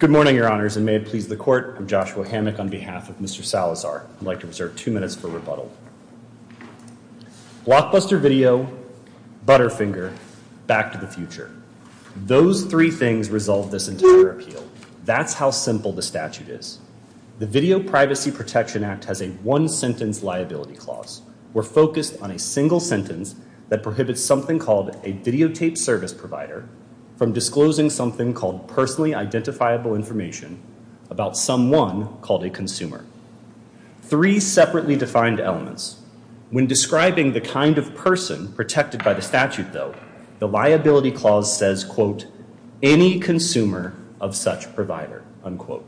Good morning, Your Honors, and may it please the Court, I'm Joshua Hammack on behalf of Mr. Salazar. I'd like to reserve two minutes for rebuttal. Blockbuster video, Butterfinger, Back to the Future. Those three things resolve this entire appeal. That's how simple the statute is. The Video Privacy Protection Act has a one-sentence liability clause. We're focused on a single sentence that prohibits something called a videotaped service provider from disclosing something called personally identifiable information about someone called a consumer. Three separately defined elements. When describing the kind of person protected by the statute, though, the liability clause says, quote, any consumer of such provider, unquote.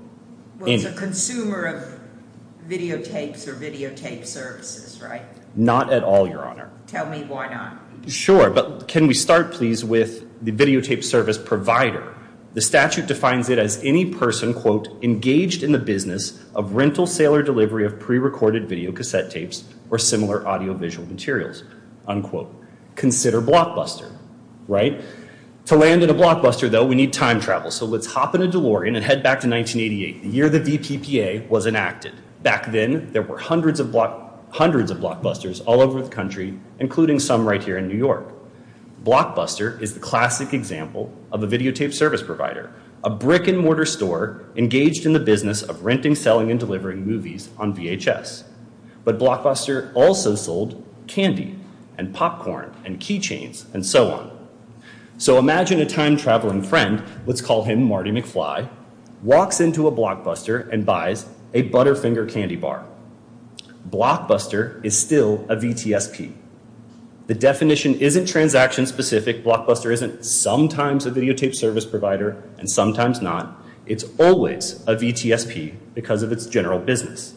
A consumer of videotapes or videotape services, right? Not at all, Your Honor. Tell me why not. Sure, but can we start please with the videotape service provider. The statute defines it as any person, quote, engaged in the business of rental, sale, or delivery of pre-recorded videocassette tapes or similar audiovisual materials, unquote. Consider Blockbuster, right? To land in a Blockbuster, though, we need time travel. So let's hop in a DeLorean and head back to 1988, the year the DPPA was enacted. Back then, there were hundreds of Blockbusters all over the country, including some right here in New York. Blockbuster is the classic example of a videotape service provider, a brick-and-mortar store engaged in the business of renting, selling, and delivering movies on VHS. But Blockbuster also sold candy and popcorn and keychains and so on. So imagine a time-traveling friend, let's call him Marty McFly, walks into a Blockbuster and buys a Butterfinger candy bar. Blockbuster is still a VTSP. The definition isn't transaction specific. Blockbuster isn't sometimes a videotape service provider and sometimes not. It's always a VTSP because of its general business.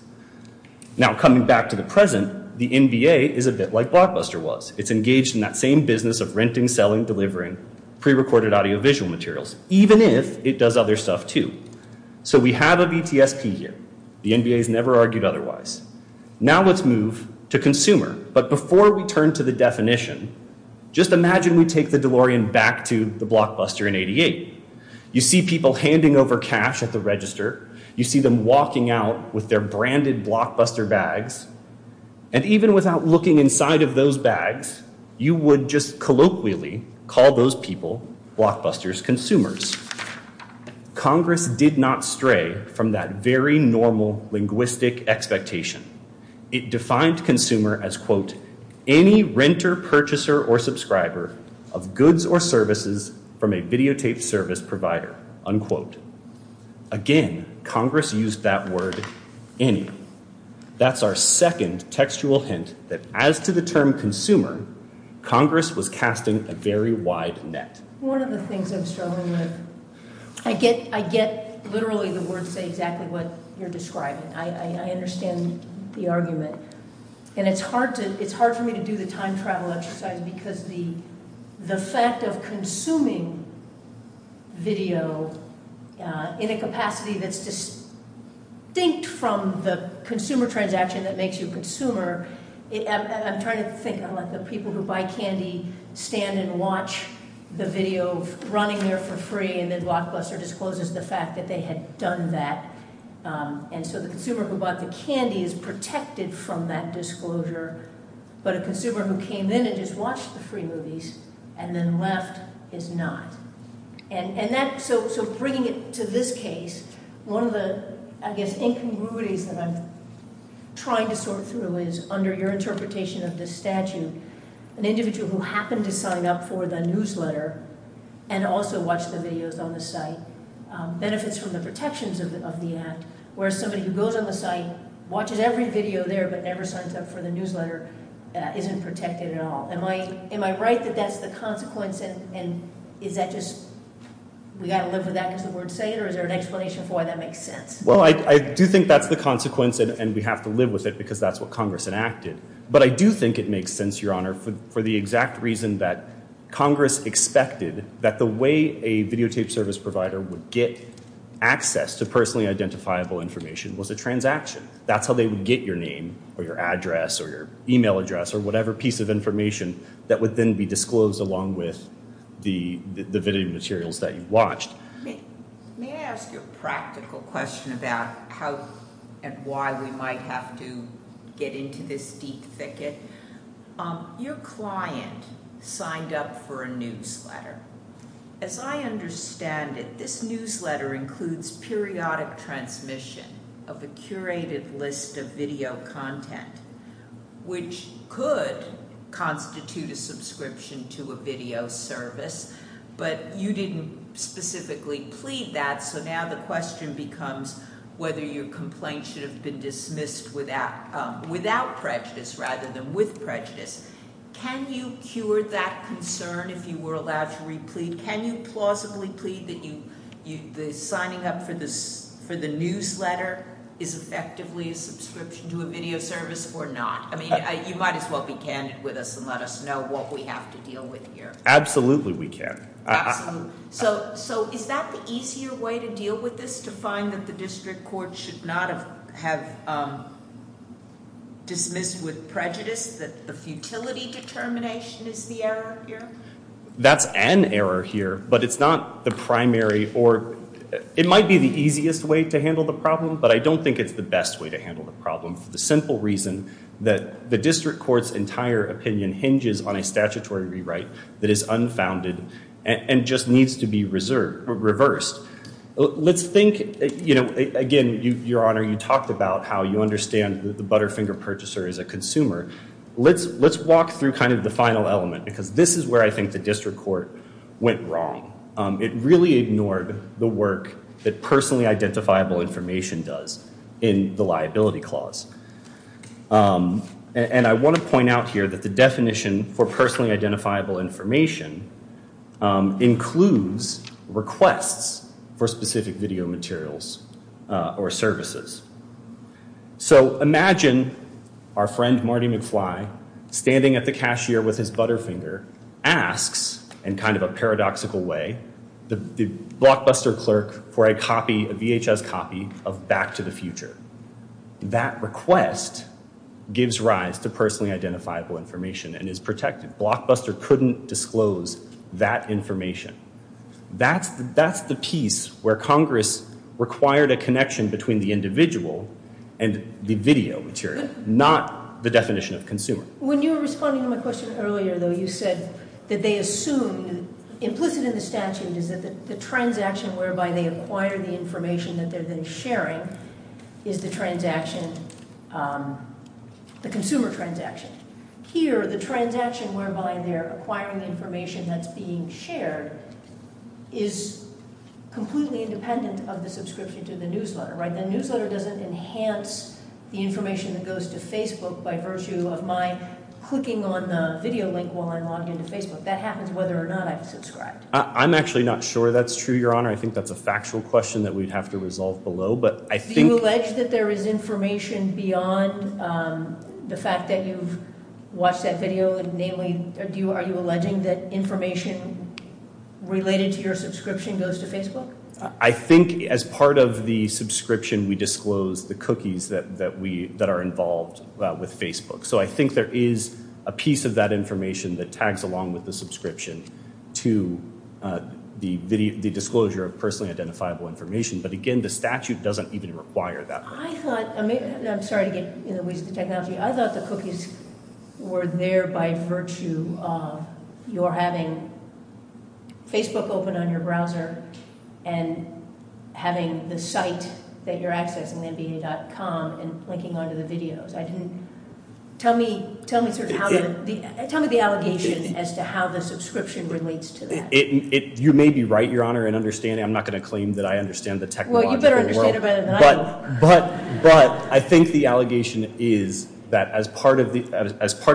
Now coming back to the present, the NBA is a bit like Blockbuster was. It's engaged in that same business of renting, selling, delivering pre-recorded audiovisual materials, even if it does other stuff too. So we have a VTSP here. The NBA has never argued otherwise. Now let's move to consumer. But before we turn to the definition, just imagine we take the DeLorean back to the Blockbuster in 88. You see people handing over cash at the register. You see them walking out with their branded Blockbuster bags. And even without looking inside of those bags, you would just colloquially call those people Blockbuster's consumers. Congress did not stray from that very normal linguistic expectation. It defined consumer as, quote, any renter, purchaser, or subscriber of goods or services from a videotape service provider, unquote. Again, Congress used that word any. That's our second textual hint that as to the term consumer, Congress was casting a very wide net. One of the things I'm struggling with, I get literally the words say exactly what you're describing. I understand the argument. And it's hard for me to do the time travel exercise because the fact of consuming video in a capacity that's distinct from the consumer transaction that makes you a consumer, I'm trying to think. I let the people who buy candy stand and watch the video of running there for free. And then Blockbuster discloses the fact that they had done that. And so the consumer who bought the candy is protected from that disclosure. But a consumer who came in and just watched the free movies and then left is not. And that, so bringing it to this case, one of the, I guess, incongruities that I'm trying to sort through is under your interpretation of this statute, an individual who happened to sign up for the newsletter and also watched the videos on the site benefits from the protections of the act, whereas somebody who goes on the site, watches every video there, but never signs up for the newsletter, isn't protected at all. Am I right that that's the consequence? And is that just, we got to live with that because the words say it, or is there an explanation for why that makes sense? Well, I do think that's the consequence, and we have to live with it because that's what Congress enacted. But I do think it makes sense, Your Honor, for the exact reason that Congress expected that the way a videotape service would get access to personally identifiable information was a transaction. That's how they would get your name or your address or your email address or whatever piece of information that would then be disclosed along with the video materials that you watched. May I ask you a practical question about how and why we might have to get into this deep thicket? Your client signed up for a newsletter. As I understand it, this newsletter includes periodic transmission of a curated list of video content, which could constitute a subscription to a video service, but you didn't specifically plead that, so now the question becomes whether your complaint should have been dismissed without prejudice rather than with prejudice. Can you cure that concern if you were allowed to replead? Can you plausibly plead that the signing up for the newsletter is effectively a subscription to a video service or not? I mean, you might as well be candid with us and let us know what we have to deal with here. Absolutely we can. So is that the easier way to deal with this, to find that the district court should not have dismissed with prejudice that the futility determination is the error here? That's an error here, but it's not the primary or it might be the easiest way to handle the problem, but I don't think it's the best way to handle the problem for the simple reason that the district court's entire opinion hinges on a statutory rewrite that is unfounded and just needs to be reversed. Let's think, you know, again, Your Honor, you talked about how you understand that the butterfinger purchaser is a consumer. Let's walk through kind of the final element because this is where I think the district court went wrong. It really ignored the work that personally identifiable information does in the liability clause, and I want to point out here that the definition for personally identifiable information includes requests for specific video materials or services. So imagine our friend Marty McFly standing at the cashier with his butterfinger asks, in kind of a paradoxical way, the blockbuster clerk for a copy, a VHS copy, of Back to the Future. That request gives rise to personally identifiable information and is protected. Blockbuster couldn't disclose that information. That's the piece where Congress required a connection between the individual and the video material, not the definition of consumer. When you were responding to my question earlier, though, you said that they assume implicit in the sharing is the transaction, the consumer transaction. Here, the transaction whereby they're acquiring the information that's being shared is completely independent of the subscription to the newsletter, right? The newsletter doesn't enhance the information that goes to Facebook by virtue of my clicking on the video link while I log into Facebook. That happens whether or not I've subscribed. I'm actually not sure that's true, Your Honor. I think that's a factual question that we'd have to resolve below, but I think... Do you allege that there is information beyond the fact that you've watched that video, namely, are you alleging that information related to your subscription goes to Facebook? I think as part of the subscription, we disclose the cookies that are involved with Facebook. So I think there is a piece of that information that again, the statute doesn't even require that. I thought... I'm sorry to get in the ways of the technology. I thought the cookies were there by virtue of your having Facebook open on your browser and having the site that you're accessing, nba.com, and clicking onto the videos. Tell me the allegations as to how the subscription relates to that. You may be right, Your Honor, in understanding. I'm not going to claim that I understand the technological world, but I think the allegation is that as part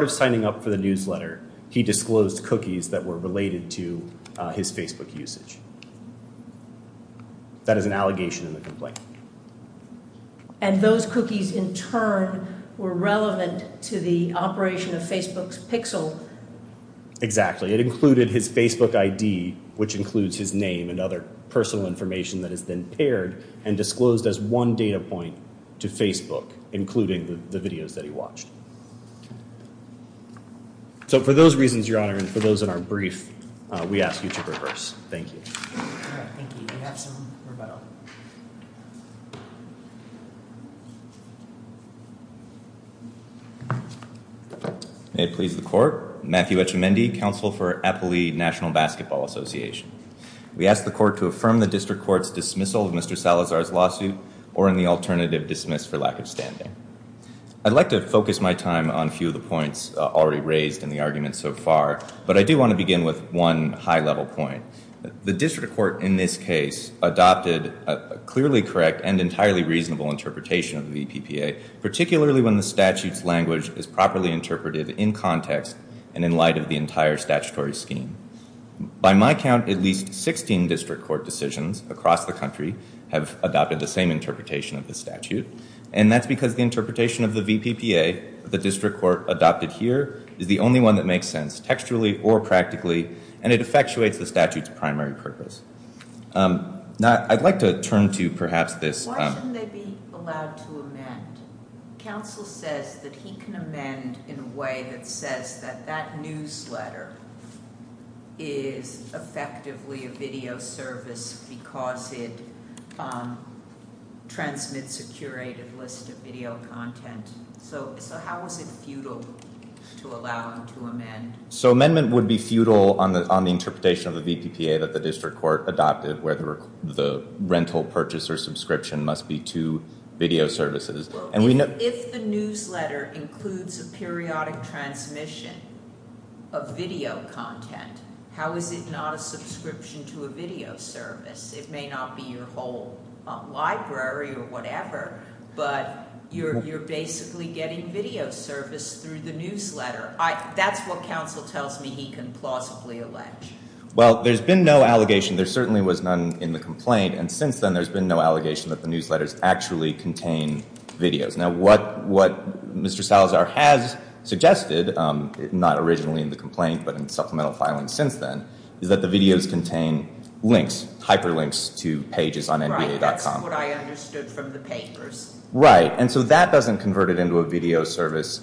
of signing up for the newsletter, he disclosed cookies that were related to his Facebook usage. That is an allegation in the complaint. And those cookies in turn were relevant to the operation of Facebook's Pixel? Exactly. It included his Facebook ID, which includes his name and other personal information that has been paired and disclosed as one data point to Facebook, including the videos that he watched. So for those reasons, Your Honor, and for those in our brief, we ask you to reverse. Thank you. All right, thank you. We have some rebuttal. May it please the Court. Matthew Etchemendy, counsel for Appalachian National Basketball Association. We ask the Court to affirm the District Court's dismissal of Mr. Salazar's lawsuit or in the alternative, dismiss for lack of standing. I'd like to focus my time on a few of the points already raised in the argument so far, but I do want to begin with one high-level point. The District Court in this case adopted a clearly correct and entirely reasonable interpretation of the VPPA, particularly when the statute's language is properly interpreted in context and in light of the entire statutory scheme. By my count, at least 16 District Court decisions across the country have adopted the same interpretation of the statute, and that's because the interpretation of the VPPA, the District Court adopted here, is the only one that makes sense textually or practically, and it effectuates the statute's primary purpose. Now, I'd like to turn to perhaps this... Why shouldn't they be allowed to amend? Counsel says that he can amend in a way that says that that newsletter is effectively a video service because it transmits a curated list of video content. So how is it futile to allow him to amend? So amendment would be futile on the interpretation of the VPPA that the District Court adopted, where the rental purchase or subscription must be to video services. If the newsletter includes a periodic transmission of video content, how is it not a subscription to a video service? It may not be your whole library or whatever, but you're basically getting video service through the newsletter. That's what counsel tells me he can plausibly allege. Well, there's been no allegation. There certainly was none in the complaint, and since then there's been no allegation that the newsletters actually contain videos. Now, what Mr. Salazar has suggested, not originally in the complaint but in supplemental filing since then, is that the videos contain links, hyperlinks to pages on nba.com. Right, that's what I understood from the papers. Right, and so that doesn't convert it into a video service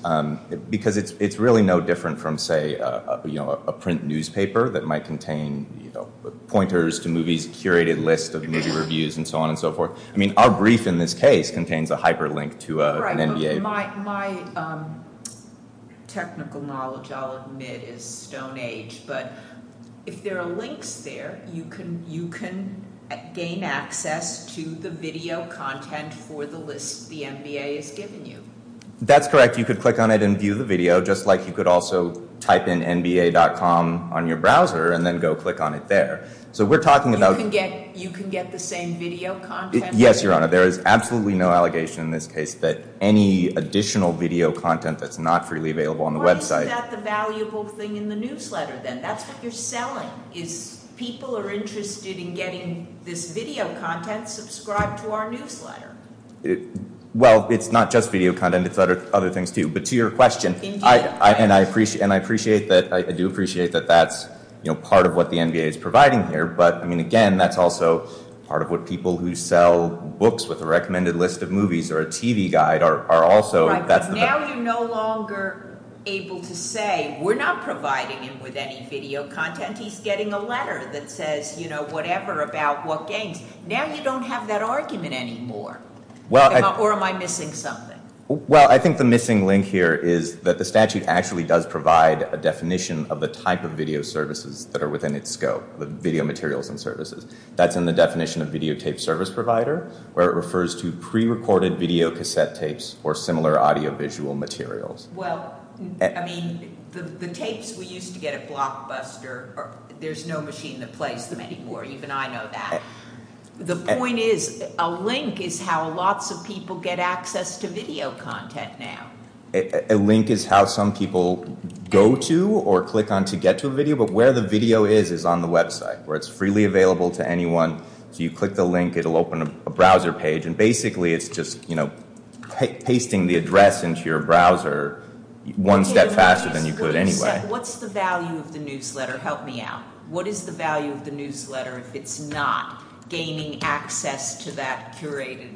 because it's really no different from, say, a print newspaper that might contain pointers to movies, curated lists of movie reviews, and so on and so forth. I mean, our brief in this case contains a hyperlink to an NBA. My technical knowledge, I'll admit, is stone age, but if there are links there, you can gain access to the video content for the list the NBA has given you. That's correct. You could click on it and view the video, just like you could also type in nba.com on your browser and then go click on it there. You can get the same video content? Yes, Your Honor. There is absolutely no allegation in this case that any additional video content that's not freely available on the website. Isn't that the valuable thing in the newsletter then? That's what you're selling, is people are interested in getting this video content, subscribe to our newsletter. Well, it's not just video content, it's other things too, but to your question, and I appreciate that, I do appreciate that that's, you know, part of what the NBA is providing here, but I mean, again, that's also part of what people who sell books with a Now you're no longer able to say we're not providing him with any video content, he's getting a letter that says, you know, whatever about what games. Now you don't have that argument anymore. Or am I missing something? Well, I think the missing link here is that the statute actually does provide a definition of the type of video services that are within its scope, the video materials and services. That's in the definition of video tape service provider, where it refers to pre-recorded video cassette tapes or similar audio visual materials. Well, I mean, the tapes we used to get at Blockbuster, there's no machine that plays them anymore, even I know that. The point is, a link is how lots of people get access to video content now. A link is how some people go to or click on to get to a video, but where the video is, is on the website, where it's freely available to anyone. So you click the link, it'll open a browser page, and basically it's just, you know, pasting the address into your browser one step faster than you could anyway. What's the value of the newsletter? Help me out. What is the value of the newsletter if it's not gaining access to that curated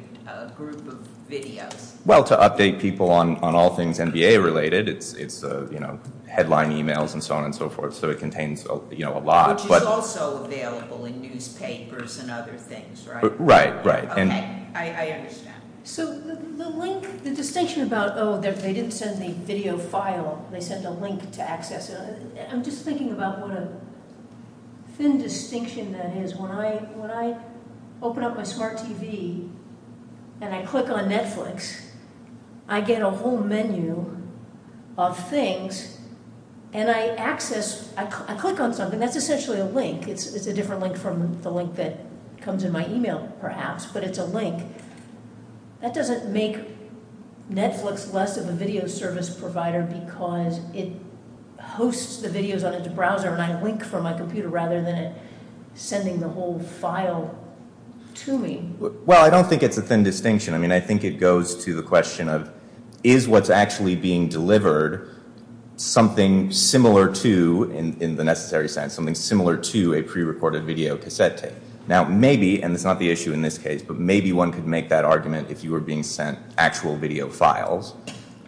group of videos? Well, to update people on all things NBA related, it's headline emails and so on and so forth. So it contains, you know, a lot. Which is also available in newspapers and other things, right? Right, right. Okay, I understand. So the link, the distinction about, oh, they didn't send the video file, they sent a link to access it. I'm just thinking about what a thin distinction that is. When I open up my smart TV and I click on Netflix, I get a whole menu of things and I access, I click on something, that's essentially a link. It's a different link from the link that comes in my email perhaps, but it's a link. That doesn't make Netflix less of a video service provider because it hosts the videos on its browser and I link from my computer rather than sending the whole file to me. Well, I don't think it's a thin distinction. I mean, I think it goes to the question of, is what's actually being delivered something similar to, in the necessary sense, something similar to a pre-reported video cassette tape? Now maybe, and it's not the issue in this case, but maybe one could make that argument if you were being sent actual video files.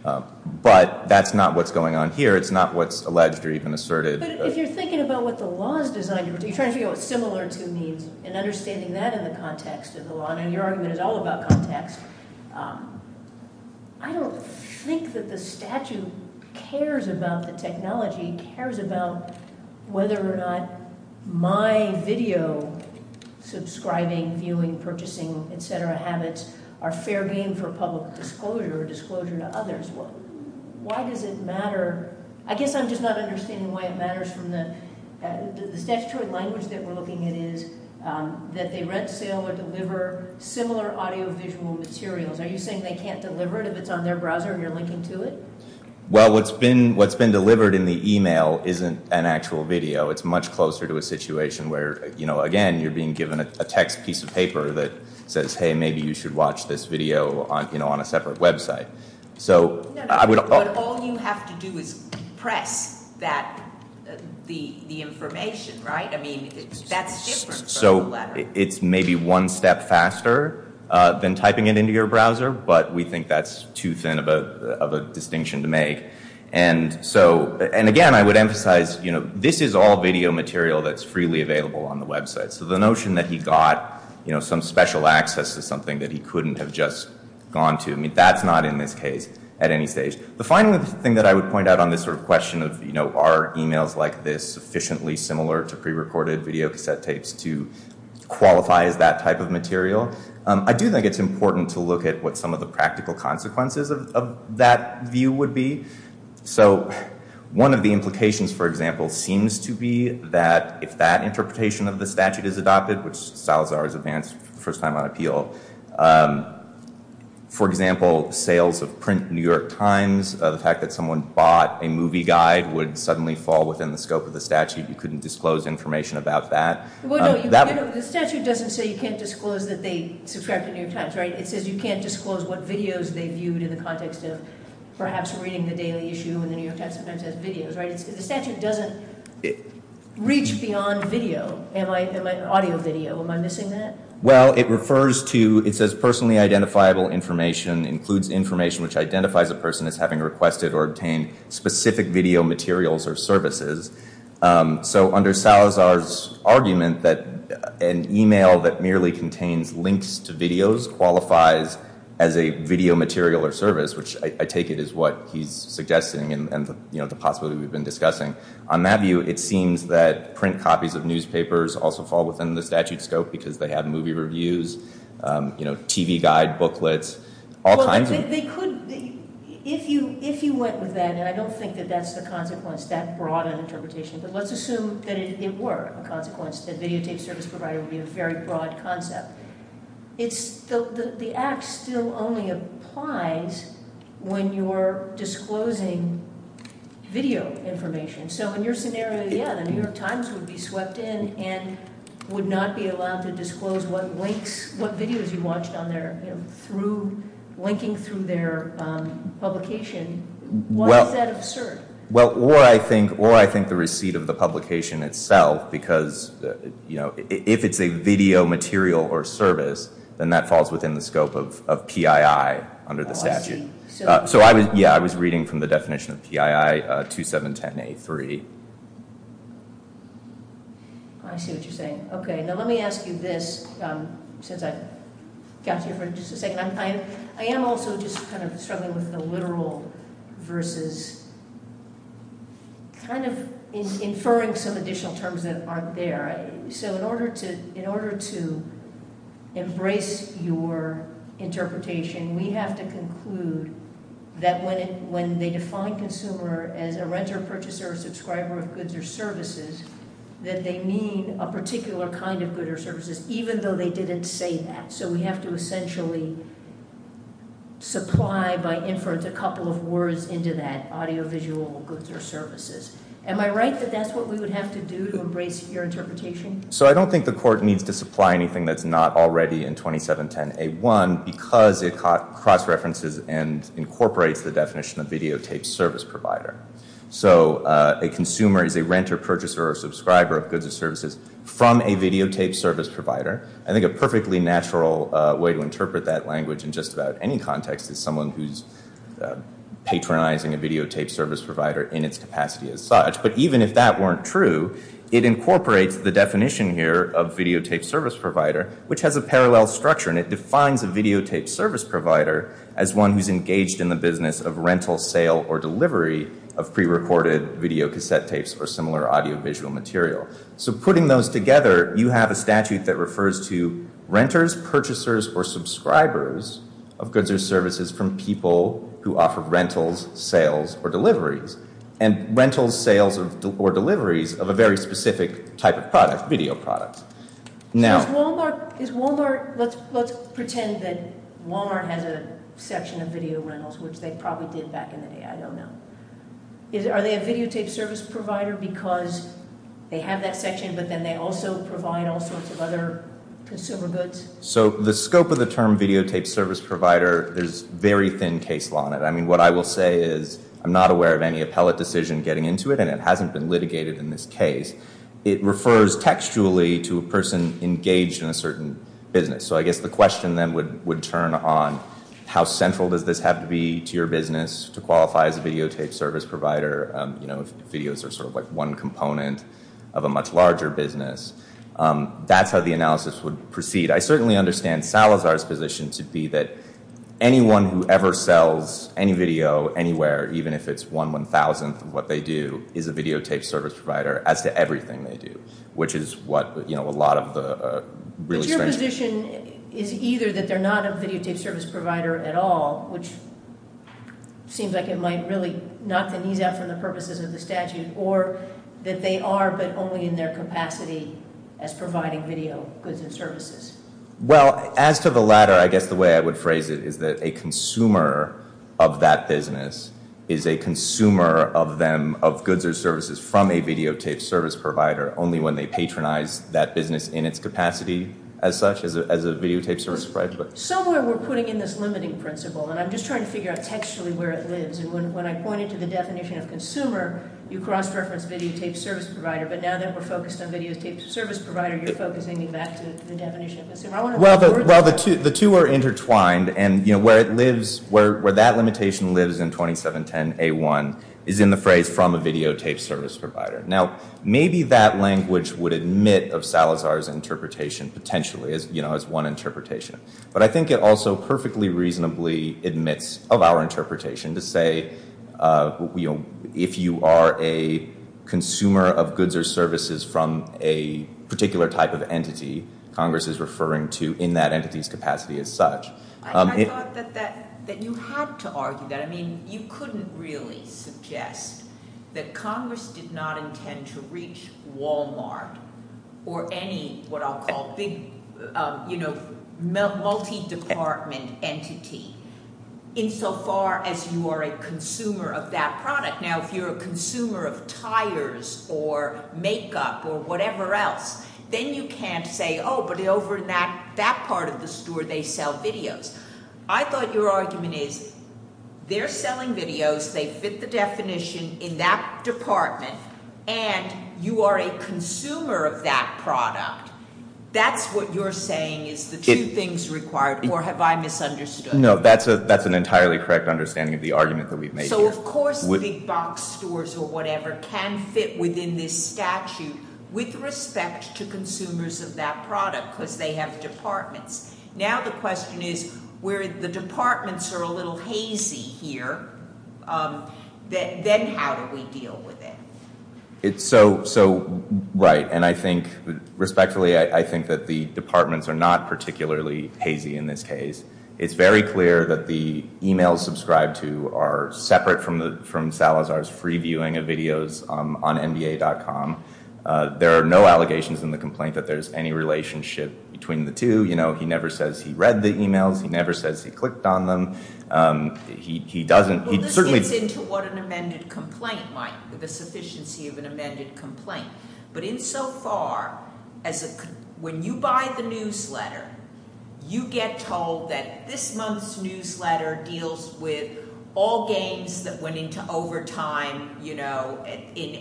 But that's not what's going on here. It's not what's alleged or even asserted. But if you're thinking about what the law is designed to do, you're trying to figure out what similar to means and understanding that in the context of the law, and your argument is all about context, I don't think that the statute cares about the technology, cares about whether or not my video subscribing, viewing, purchasing, etc. habits are fair game for public disclosure or disclosure to others. Why does it matter? I guess I'm just not understanding why it matters from the statutory language that we're looking at is that they rent, sale, or deliver similar audiovisual materials. Are you saying they can't deliver it if it's on their browser and you're linking to it? Well, what's been delivered in the email isn't an actual video. It's much closer to a situation where, again, you're being given a text piece of paper that says, hey, maybe you should watch this right? I mean, that's different. So it's maybe one step faster than typing it into your browser, but we think that's too thin of a distinction to make. And so, and again, I would emphasize, you know, this is all video material that's freely available on the website. So the notion that he got, you know, some special access to something that he couldn't have just gone to, I mean, that's not in this case at any stage. The final thing that I would point out on this sort of of, you know, are emails like this sufficiently similar to prerecorded video cassette tapes to qualify as that type of material? I do think it's important to look at what some of the practical consequences of that view would be. So one of the implications, for example, seems to be that if that interpretation of the statute is adopted, which Salazar has advanced for the first time on appeal, for example, sales of print New York Times, the fact that someone bought a movie guide would suddenly fall within the scope of the statute. You couldn't disclose information about that. The statute doesn't say you can't disclose that they subscribe to New York Times, right? It says you can't disclose what videos they viewed in the context of perhaps reading the Daily Issue and the New York Times sometimes has videos, right? The statute doesn't reach beyond video. Am I audio video? Am I missing that? Well, it refers to, it says personally identifiable information includes information which identifies a person as having requested or obtained specific video materials or services. So under Salazar's argument that an email that merely contains links to videos qualifies as a video material or service, which I take it is what he's suggesting and, you know, the possibility we've been discussing. On that view, it seems that print copies of newspapers also fall within the statute scope because they have movie reviews, you know, TV guide booklets, all kinds of... Well, they could, if you went with that, and I don't think that that's the consequence, that broad an interpretation, but let's assume that it were a consequence that videotape service provider would be a very broad concept. It's still, the act still only applies when you're disclosing video information. So in your scenario, yeah, the New York Times, what videos you watched on there through, linking through their publication, why is that absurd? Well, or I think the receipt of the publication itself because, you know, if it's a video material or service, then that falls within the scope of PII under the statute. So I was, yeah, I was reading from the definition of PII 2710A3. I see what you're saying. Okay, now let me ask you this since I got here for just a second. I am also just kind of struggling with the literal versus kind of inferring some additional terms that aren't there. So in order to embrace your interpretation, we have to conclude that when they define consumer as a renter, purchaser, or subscriber of goods or services, that they mean a particular kind of good or services, even though they didn't say that. So we have to essentially supply by inference a couple of words into that audio visual goods or services. Am I right that that's what we would have to do to embrace your interpretation? So I don't think the court needs to supply anything that's not already in 2710A1 because it cross references and incorporates the definition of videotape service provider. So a consumer is a renter, purchaser, or subscriber of goods or services from a videotape service provider. I think a perfectly natural way to interpret that language in just about any context is someone who's patronizing a videotape service provider in its capacity as such. But even if that weren't true, it incorporates the definition here of videotape service provider, which has a parallel structure and it defines a videotape service provider as one who's engaged in the business of rental, sale, or delivery of pre-recorded videocassette tapes or similar audio visual material. So putting those together, you have a statute that refers to renters, purchasers, or subscribers of goods or services from people who offer rentals, sales, or deliveries. And rentals, sales, or let's pretend that Walmart has a section of video rentals, which they probably did back in the day, I don't know. Are they a videotape service provider because they have that section but then they also provide all sorts of other consumer goods? So the scope of the term videotape service provider, there's very thin case law on it. I mean what I will say is I'm not aware of any appellate decision getting into it and it hasn't been litigated in this case. It refers textually to a person engaged in a certain business. So I guess the question then would would turn on how central does this have to be to your business to qualify as a videotape service provider, you know, if videos are sort of like one component of a much larger business. That's how the analysis would proceed. I certainly understand Salazar's position to be that anyone who ever sells any video anywhere, even if it's one one-thousandth of what they do, is a videotape service provider as to everything they do, which is what, you know, a lot of the really strange... But your position is either that they're not a videotape service provider at all, which seems like it might really knock the knees out from the purposes of the statute, or that they are but only in their capacity as providing video goods and services. Well, as to the latter, I guess the way I would phrase it is that a consumer of that business is a consumer of goods or services from a videotape service provider only when they patronize that business in its capacity as such as a videotape service provider. Somewhere we're putting in this limiting principle, and I'm just trying to figure out textually where it lives, and when I point it to the definition of consumer, you cross-reference videotape service provider, but now that we're focused on videotape service provider, you're focusing me back to the definition of consumer. Well, the two are intertwined, and, you know, where it lives, where that limitation lives in 2710A1 is in the phrase from a videotape service provider. Now, maybe that language would admit of Salazar's interpretation, potentially, as, you know, as one interpretation. But I think it also perfectly reasonably admits of our interpretation to say, you know, if you are a consumer of goods or services from a particular type of entity, Congress is referring to in that entity's capacity as such. I thought that you had to argue that. I mean, you couldn't really suggest that Congress did not intend to reach Walmart or any, what I'll call, big, you know, multi-department entity insofar as you are a consumer of that product. Now, if you're a consumer of tires or makeup or whatever else, then you can't say, oh, but over in that part of the store they sell videos. I thought your argument is they're selling videos, they fit the definition in that department, and you are a consumer of that product. That's what you're saying is the two things required, or have I misunderstood? No, that's an entirely correct understanding of the argument that we've made here. So, of course, big box stores or whatever can fit within this statute with respect to consumers of that product because they have departments. Now the question is, where the departments are a little hazy here, then how do we deal with it? So, right, and I think, respectfully, I think that the departments are not particularly hazy in this case. It's very clear that the emails subscribed to are separate from Salazar's free viewing of videos on nba.com. There are no allegations in the complaint that there's any relationship between the two. You know, he never says he read the emails, he never says he clicked on them, he doesn't, he certainly... Well, this gets into what an amended complaint might, the sufficiency of an amended complaint, but insofar as when you buy the all games that went into overtime, you know, in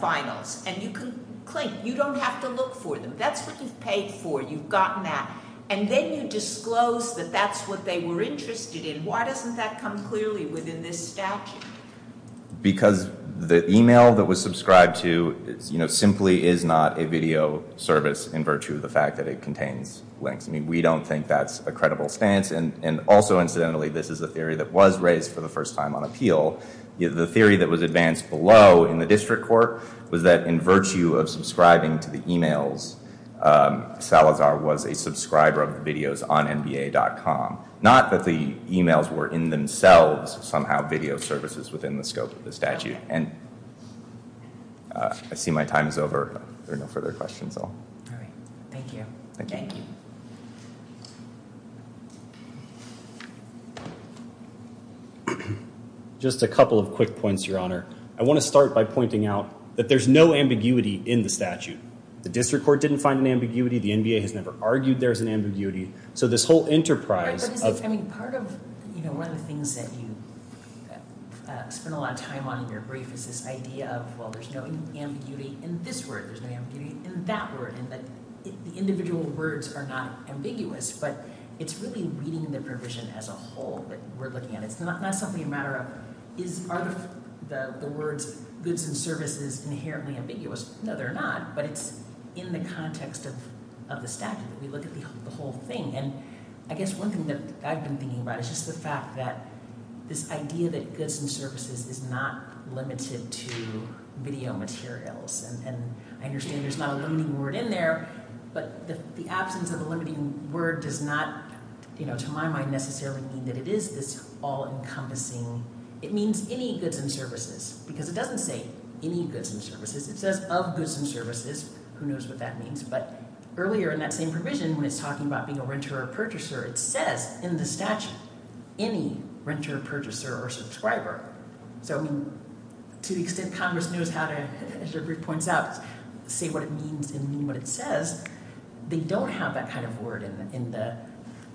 finals, and you can clink, you don't have to look for them, that's what you've paid for, you've gotten that, and then you disclose that that's what they were interested in. Why doesn't that come clearly within this statute? Because the email that was subscribed to, you know, simply is not a video service in virtue of the fact that it contains links. I mean, we don't think that's a credible stance, and also, incidentally, this is a theory that was raised for the first time on appeal. The theory that was advanced below in the district court was that in virtue of subscribing to the emails, Salazar was a subscriber of the videos on nba.com. Not that the emails were in themselves somehow video services within the scope of the statute, and I see my time is over. There are no further questions. All right, thank you. Thank you. Just a couple of quick points, your honor. I want to start by pointing out that there's no ambiguity in the statute. The district court didn't find an ambiguity, the NBA has never argued there's an ambiguity, so this whole enterprise... I mean, part of, you know, one of the things that you spend a lot of time on in your brief is this idea of, well, there's no ambiguity in this word, there's no ambiguity in that word, and that the individual words are not ambiguous, but it's really reading the provision as a whole that we're looking at. It's not something a matter of is, are the words goods and services inherently ambiguous? No, they're not, but it's in the context of the statute that we look at the whole thing, and I guess one thing that I've been thinking about is just the fact that this idea that goods and services is not limited to video materials, and I understand there's not a limiting word in there, but the absence of a limiting word does not you know, to my mind, necessarily mean that it is this all-encompassing, it means any goods and services, because it doesn't say any goods and services, it says of goods and services, who knows what that means, but earlier in that same provision when it's talking about being a renter or purchaser, it says in the statute any renter, purchaser, or subscriber, so I mean, to the extent Congress knows how to, as your brief points out, say what it means and mean what it says, they don't have that kind of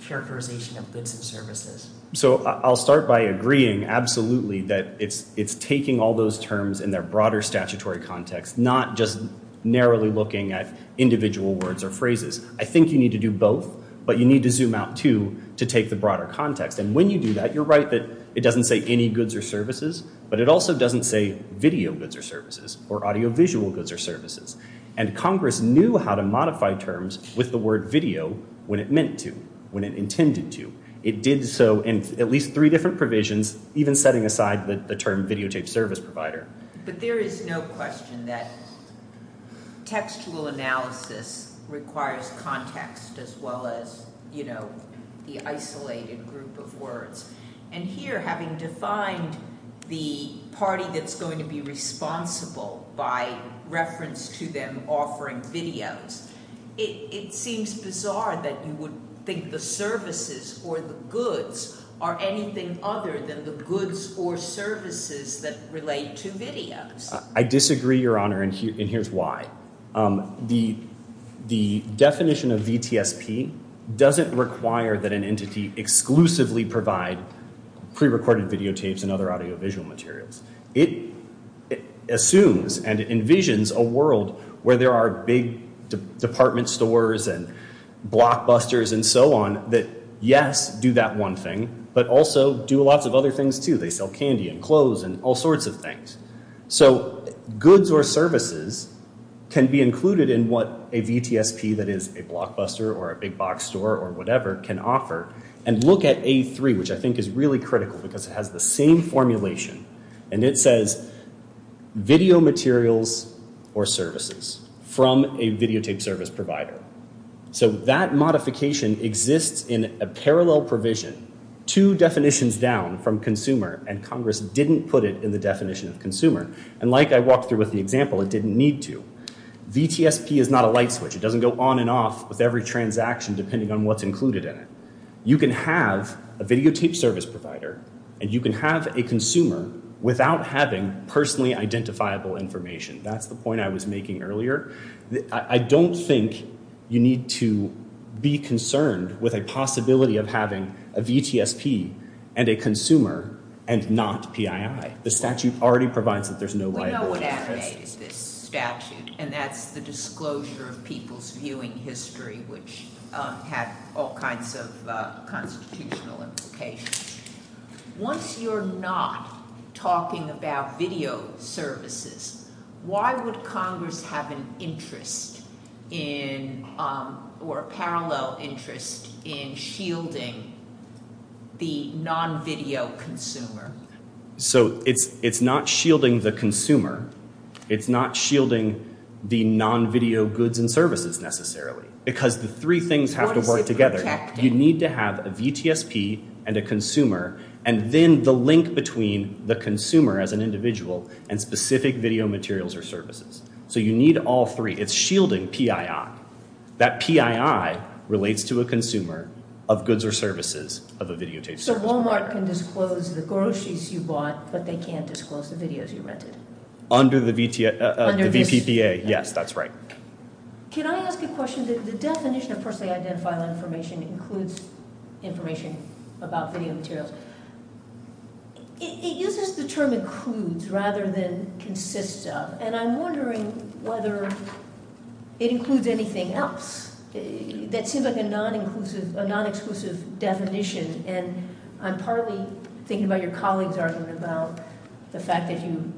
characterization of goods and services. So I'll start by agreeing, absolutely, that it's taking all those terms in their broader statutory context, not just narrowly looking at individual words or phrases, I think you need to do both, but you need to zoom out too, to take the broader context, and when you do that, you're right that it doesn't say any goods or services, but it also doesn't say video goods or services, or audiovisual goods or services, and Congress knew how to modify terms with the word video when it meant to, when it intended to, it did so in at least three different provisions, even setting aside the term videotape service provider. But there is no question that textual analysis requires context as well as, you know, the isolated group of words, and here having defined the party that's going to be responsible by reference to them offering videos, it seems bizarre that you would think the services or the goods are anything other than the goods or services that relate to videos. I disagree, your honor, and here's why. The definition of VTSP doesn't require that an entity exclusively provide pre-recorded videotapes and other audiovisual materials. It assumes and envisions a world where there are big department stores and blockbusters and so on that, yes, do that one thing, but also do lots of other things too. They sell candy and clothes and all sorts of things. So goods or services can be included in what a VTSP that is a blockbuster or a big box store or whatever can offer. And look at A3, which I think is really critical because it has the same formulation, and it says video materials or services from a videotape service provider. So that modification exists in a parallel provision, two definitions down from consumer, and Congress didn't put it in the definition of consumer. And like I walked through with the example, it didn't need to. VTSP is not a light switch. It doesn't go on and off with every transaction depending on what's included in it. You can have a videotape service provider and you can have a consumer without having personally identifiable information. That's the point I was making earlier. I don't think you need to be concerned with a possibility of having a VTSP and a consumer and not PII. The statute already provides that there's no way. We know what FAA is, this statute, and that's the Disclosure of People's Viewing History, which had all kinds of constitutional implications. Once you're not talking about video services, why would Congress have an interest in or a parallel interest in shielding the non-video consumer? So it's not shielding the consumer. It's not shielding the non-video goods and services necessarily because the three things have to work together. You need to have a VTSP and a consumer and then the link between the consumer as an individual and specific video materials or services. So you need all three. It's shielding PII. That PII relates to a consumer of goods or services of a videotape. So Walmart can disclose the groceries you bought, but they can't disclose the videos you rented? Under the VPPA. Yes, that's right. Can I ask a question? The definition of personally identifiable information includes information about video materials. It uses the term includes rather than consists of, and I'm wondering whether it includes anything else. That seems like a non-inclusive definition, and I'm partly thinking about your colleagues arguing about the fact that you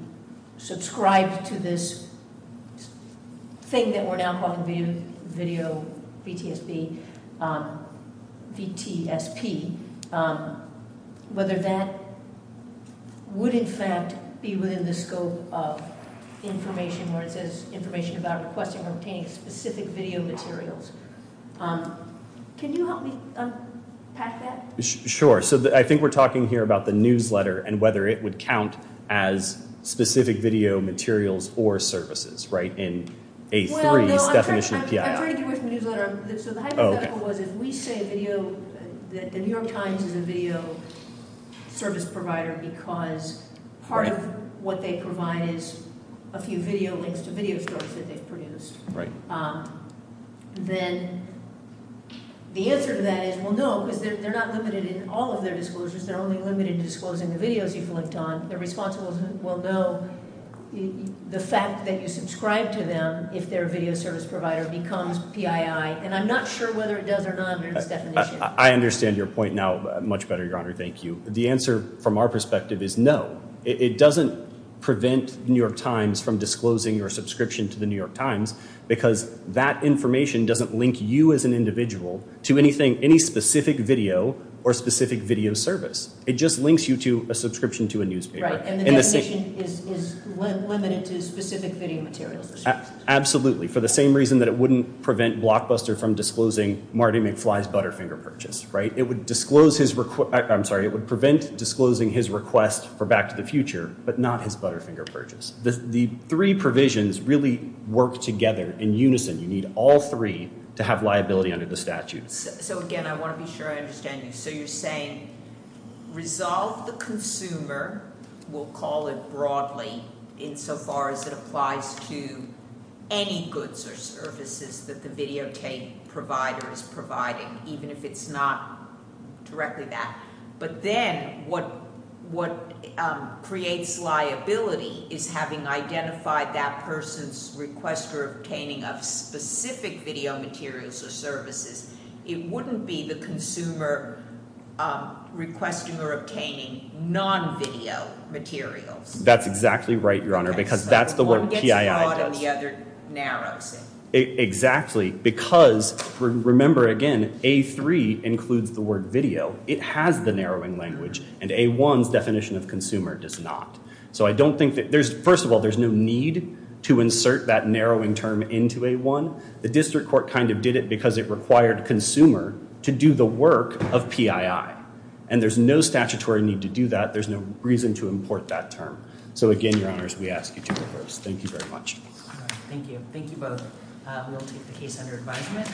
subscribed to this thing that we're now calling video VTSP, whether that would in fact be within the scope of information where it says information about requesting or obtaining specific video materials. Can you help me unpack that? Sure. So I think we're talking here about the newsletter and whether it would count as specific video materials or services, right, in A3's definition of PII. I'm trying to get away from the newsletter. So the hypothetical was if we say video, the New York Times is a video service provider because part of what they provide is a few video links to video stores that they've produced. Right. Then the answer to that is, well, no, because they're not limited in all of their disclosures. They're only limited to disclosing the videos you've linked on. The responsible will know the fact that you subscribe to them if their video service provider becomes PII, and I'm not sure whether it does or not under this definition. I understand your point now much better, Your Honor. Thank you. The answer from our perspective is no. It doesn't prevent New York Times from disclosing your subscription to the New York Times because that information doesn't link you as an individual to anything, any specific video or specific video service. It just links you to a subscription to a newspaper. Right. And the definition is limited to specific video materials. Absolutely. For the same reason that it wouldn't prevent Blockbuster from disclosing Marty McFly's Butterfinger Purchase. Right. It would disclose his request. I'm sorry. It would prevent disclosing his request for Back to the Future, but not his Butterfinger Purchase. The three provisions really work together in unison. You need all three to have liability under the statute. So again, I want to be sure I understand you. So you're saying resolve the consumer, we'll call it broadly, insofar as it applies to any goods or services that the videotape provider is providing, even if it's not directly that. But then what creates liability is having identified that person's request for obtaining of specific video materials or services. It wouldn't be the consumer requesting or obtaining non-video materials. That's exactly right, because that's the word PII does. Exactly. Because remember, again, A3 includes the word video. It has the narrowing language, and A1's definition of consumer does not. So I don't think that there's, first of all, there's no need to insert that narrowing term into A1. The district court kind of did it because it required consumer to do the work of PII. And there's no statutory need to do that. There's no reason to import that term. So again, Your Honours, we ask you to reverse. Thank you very much. Thank you. Thank you both. We'll take the case under advisement.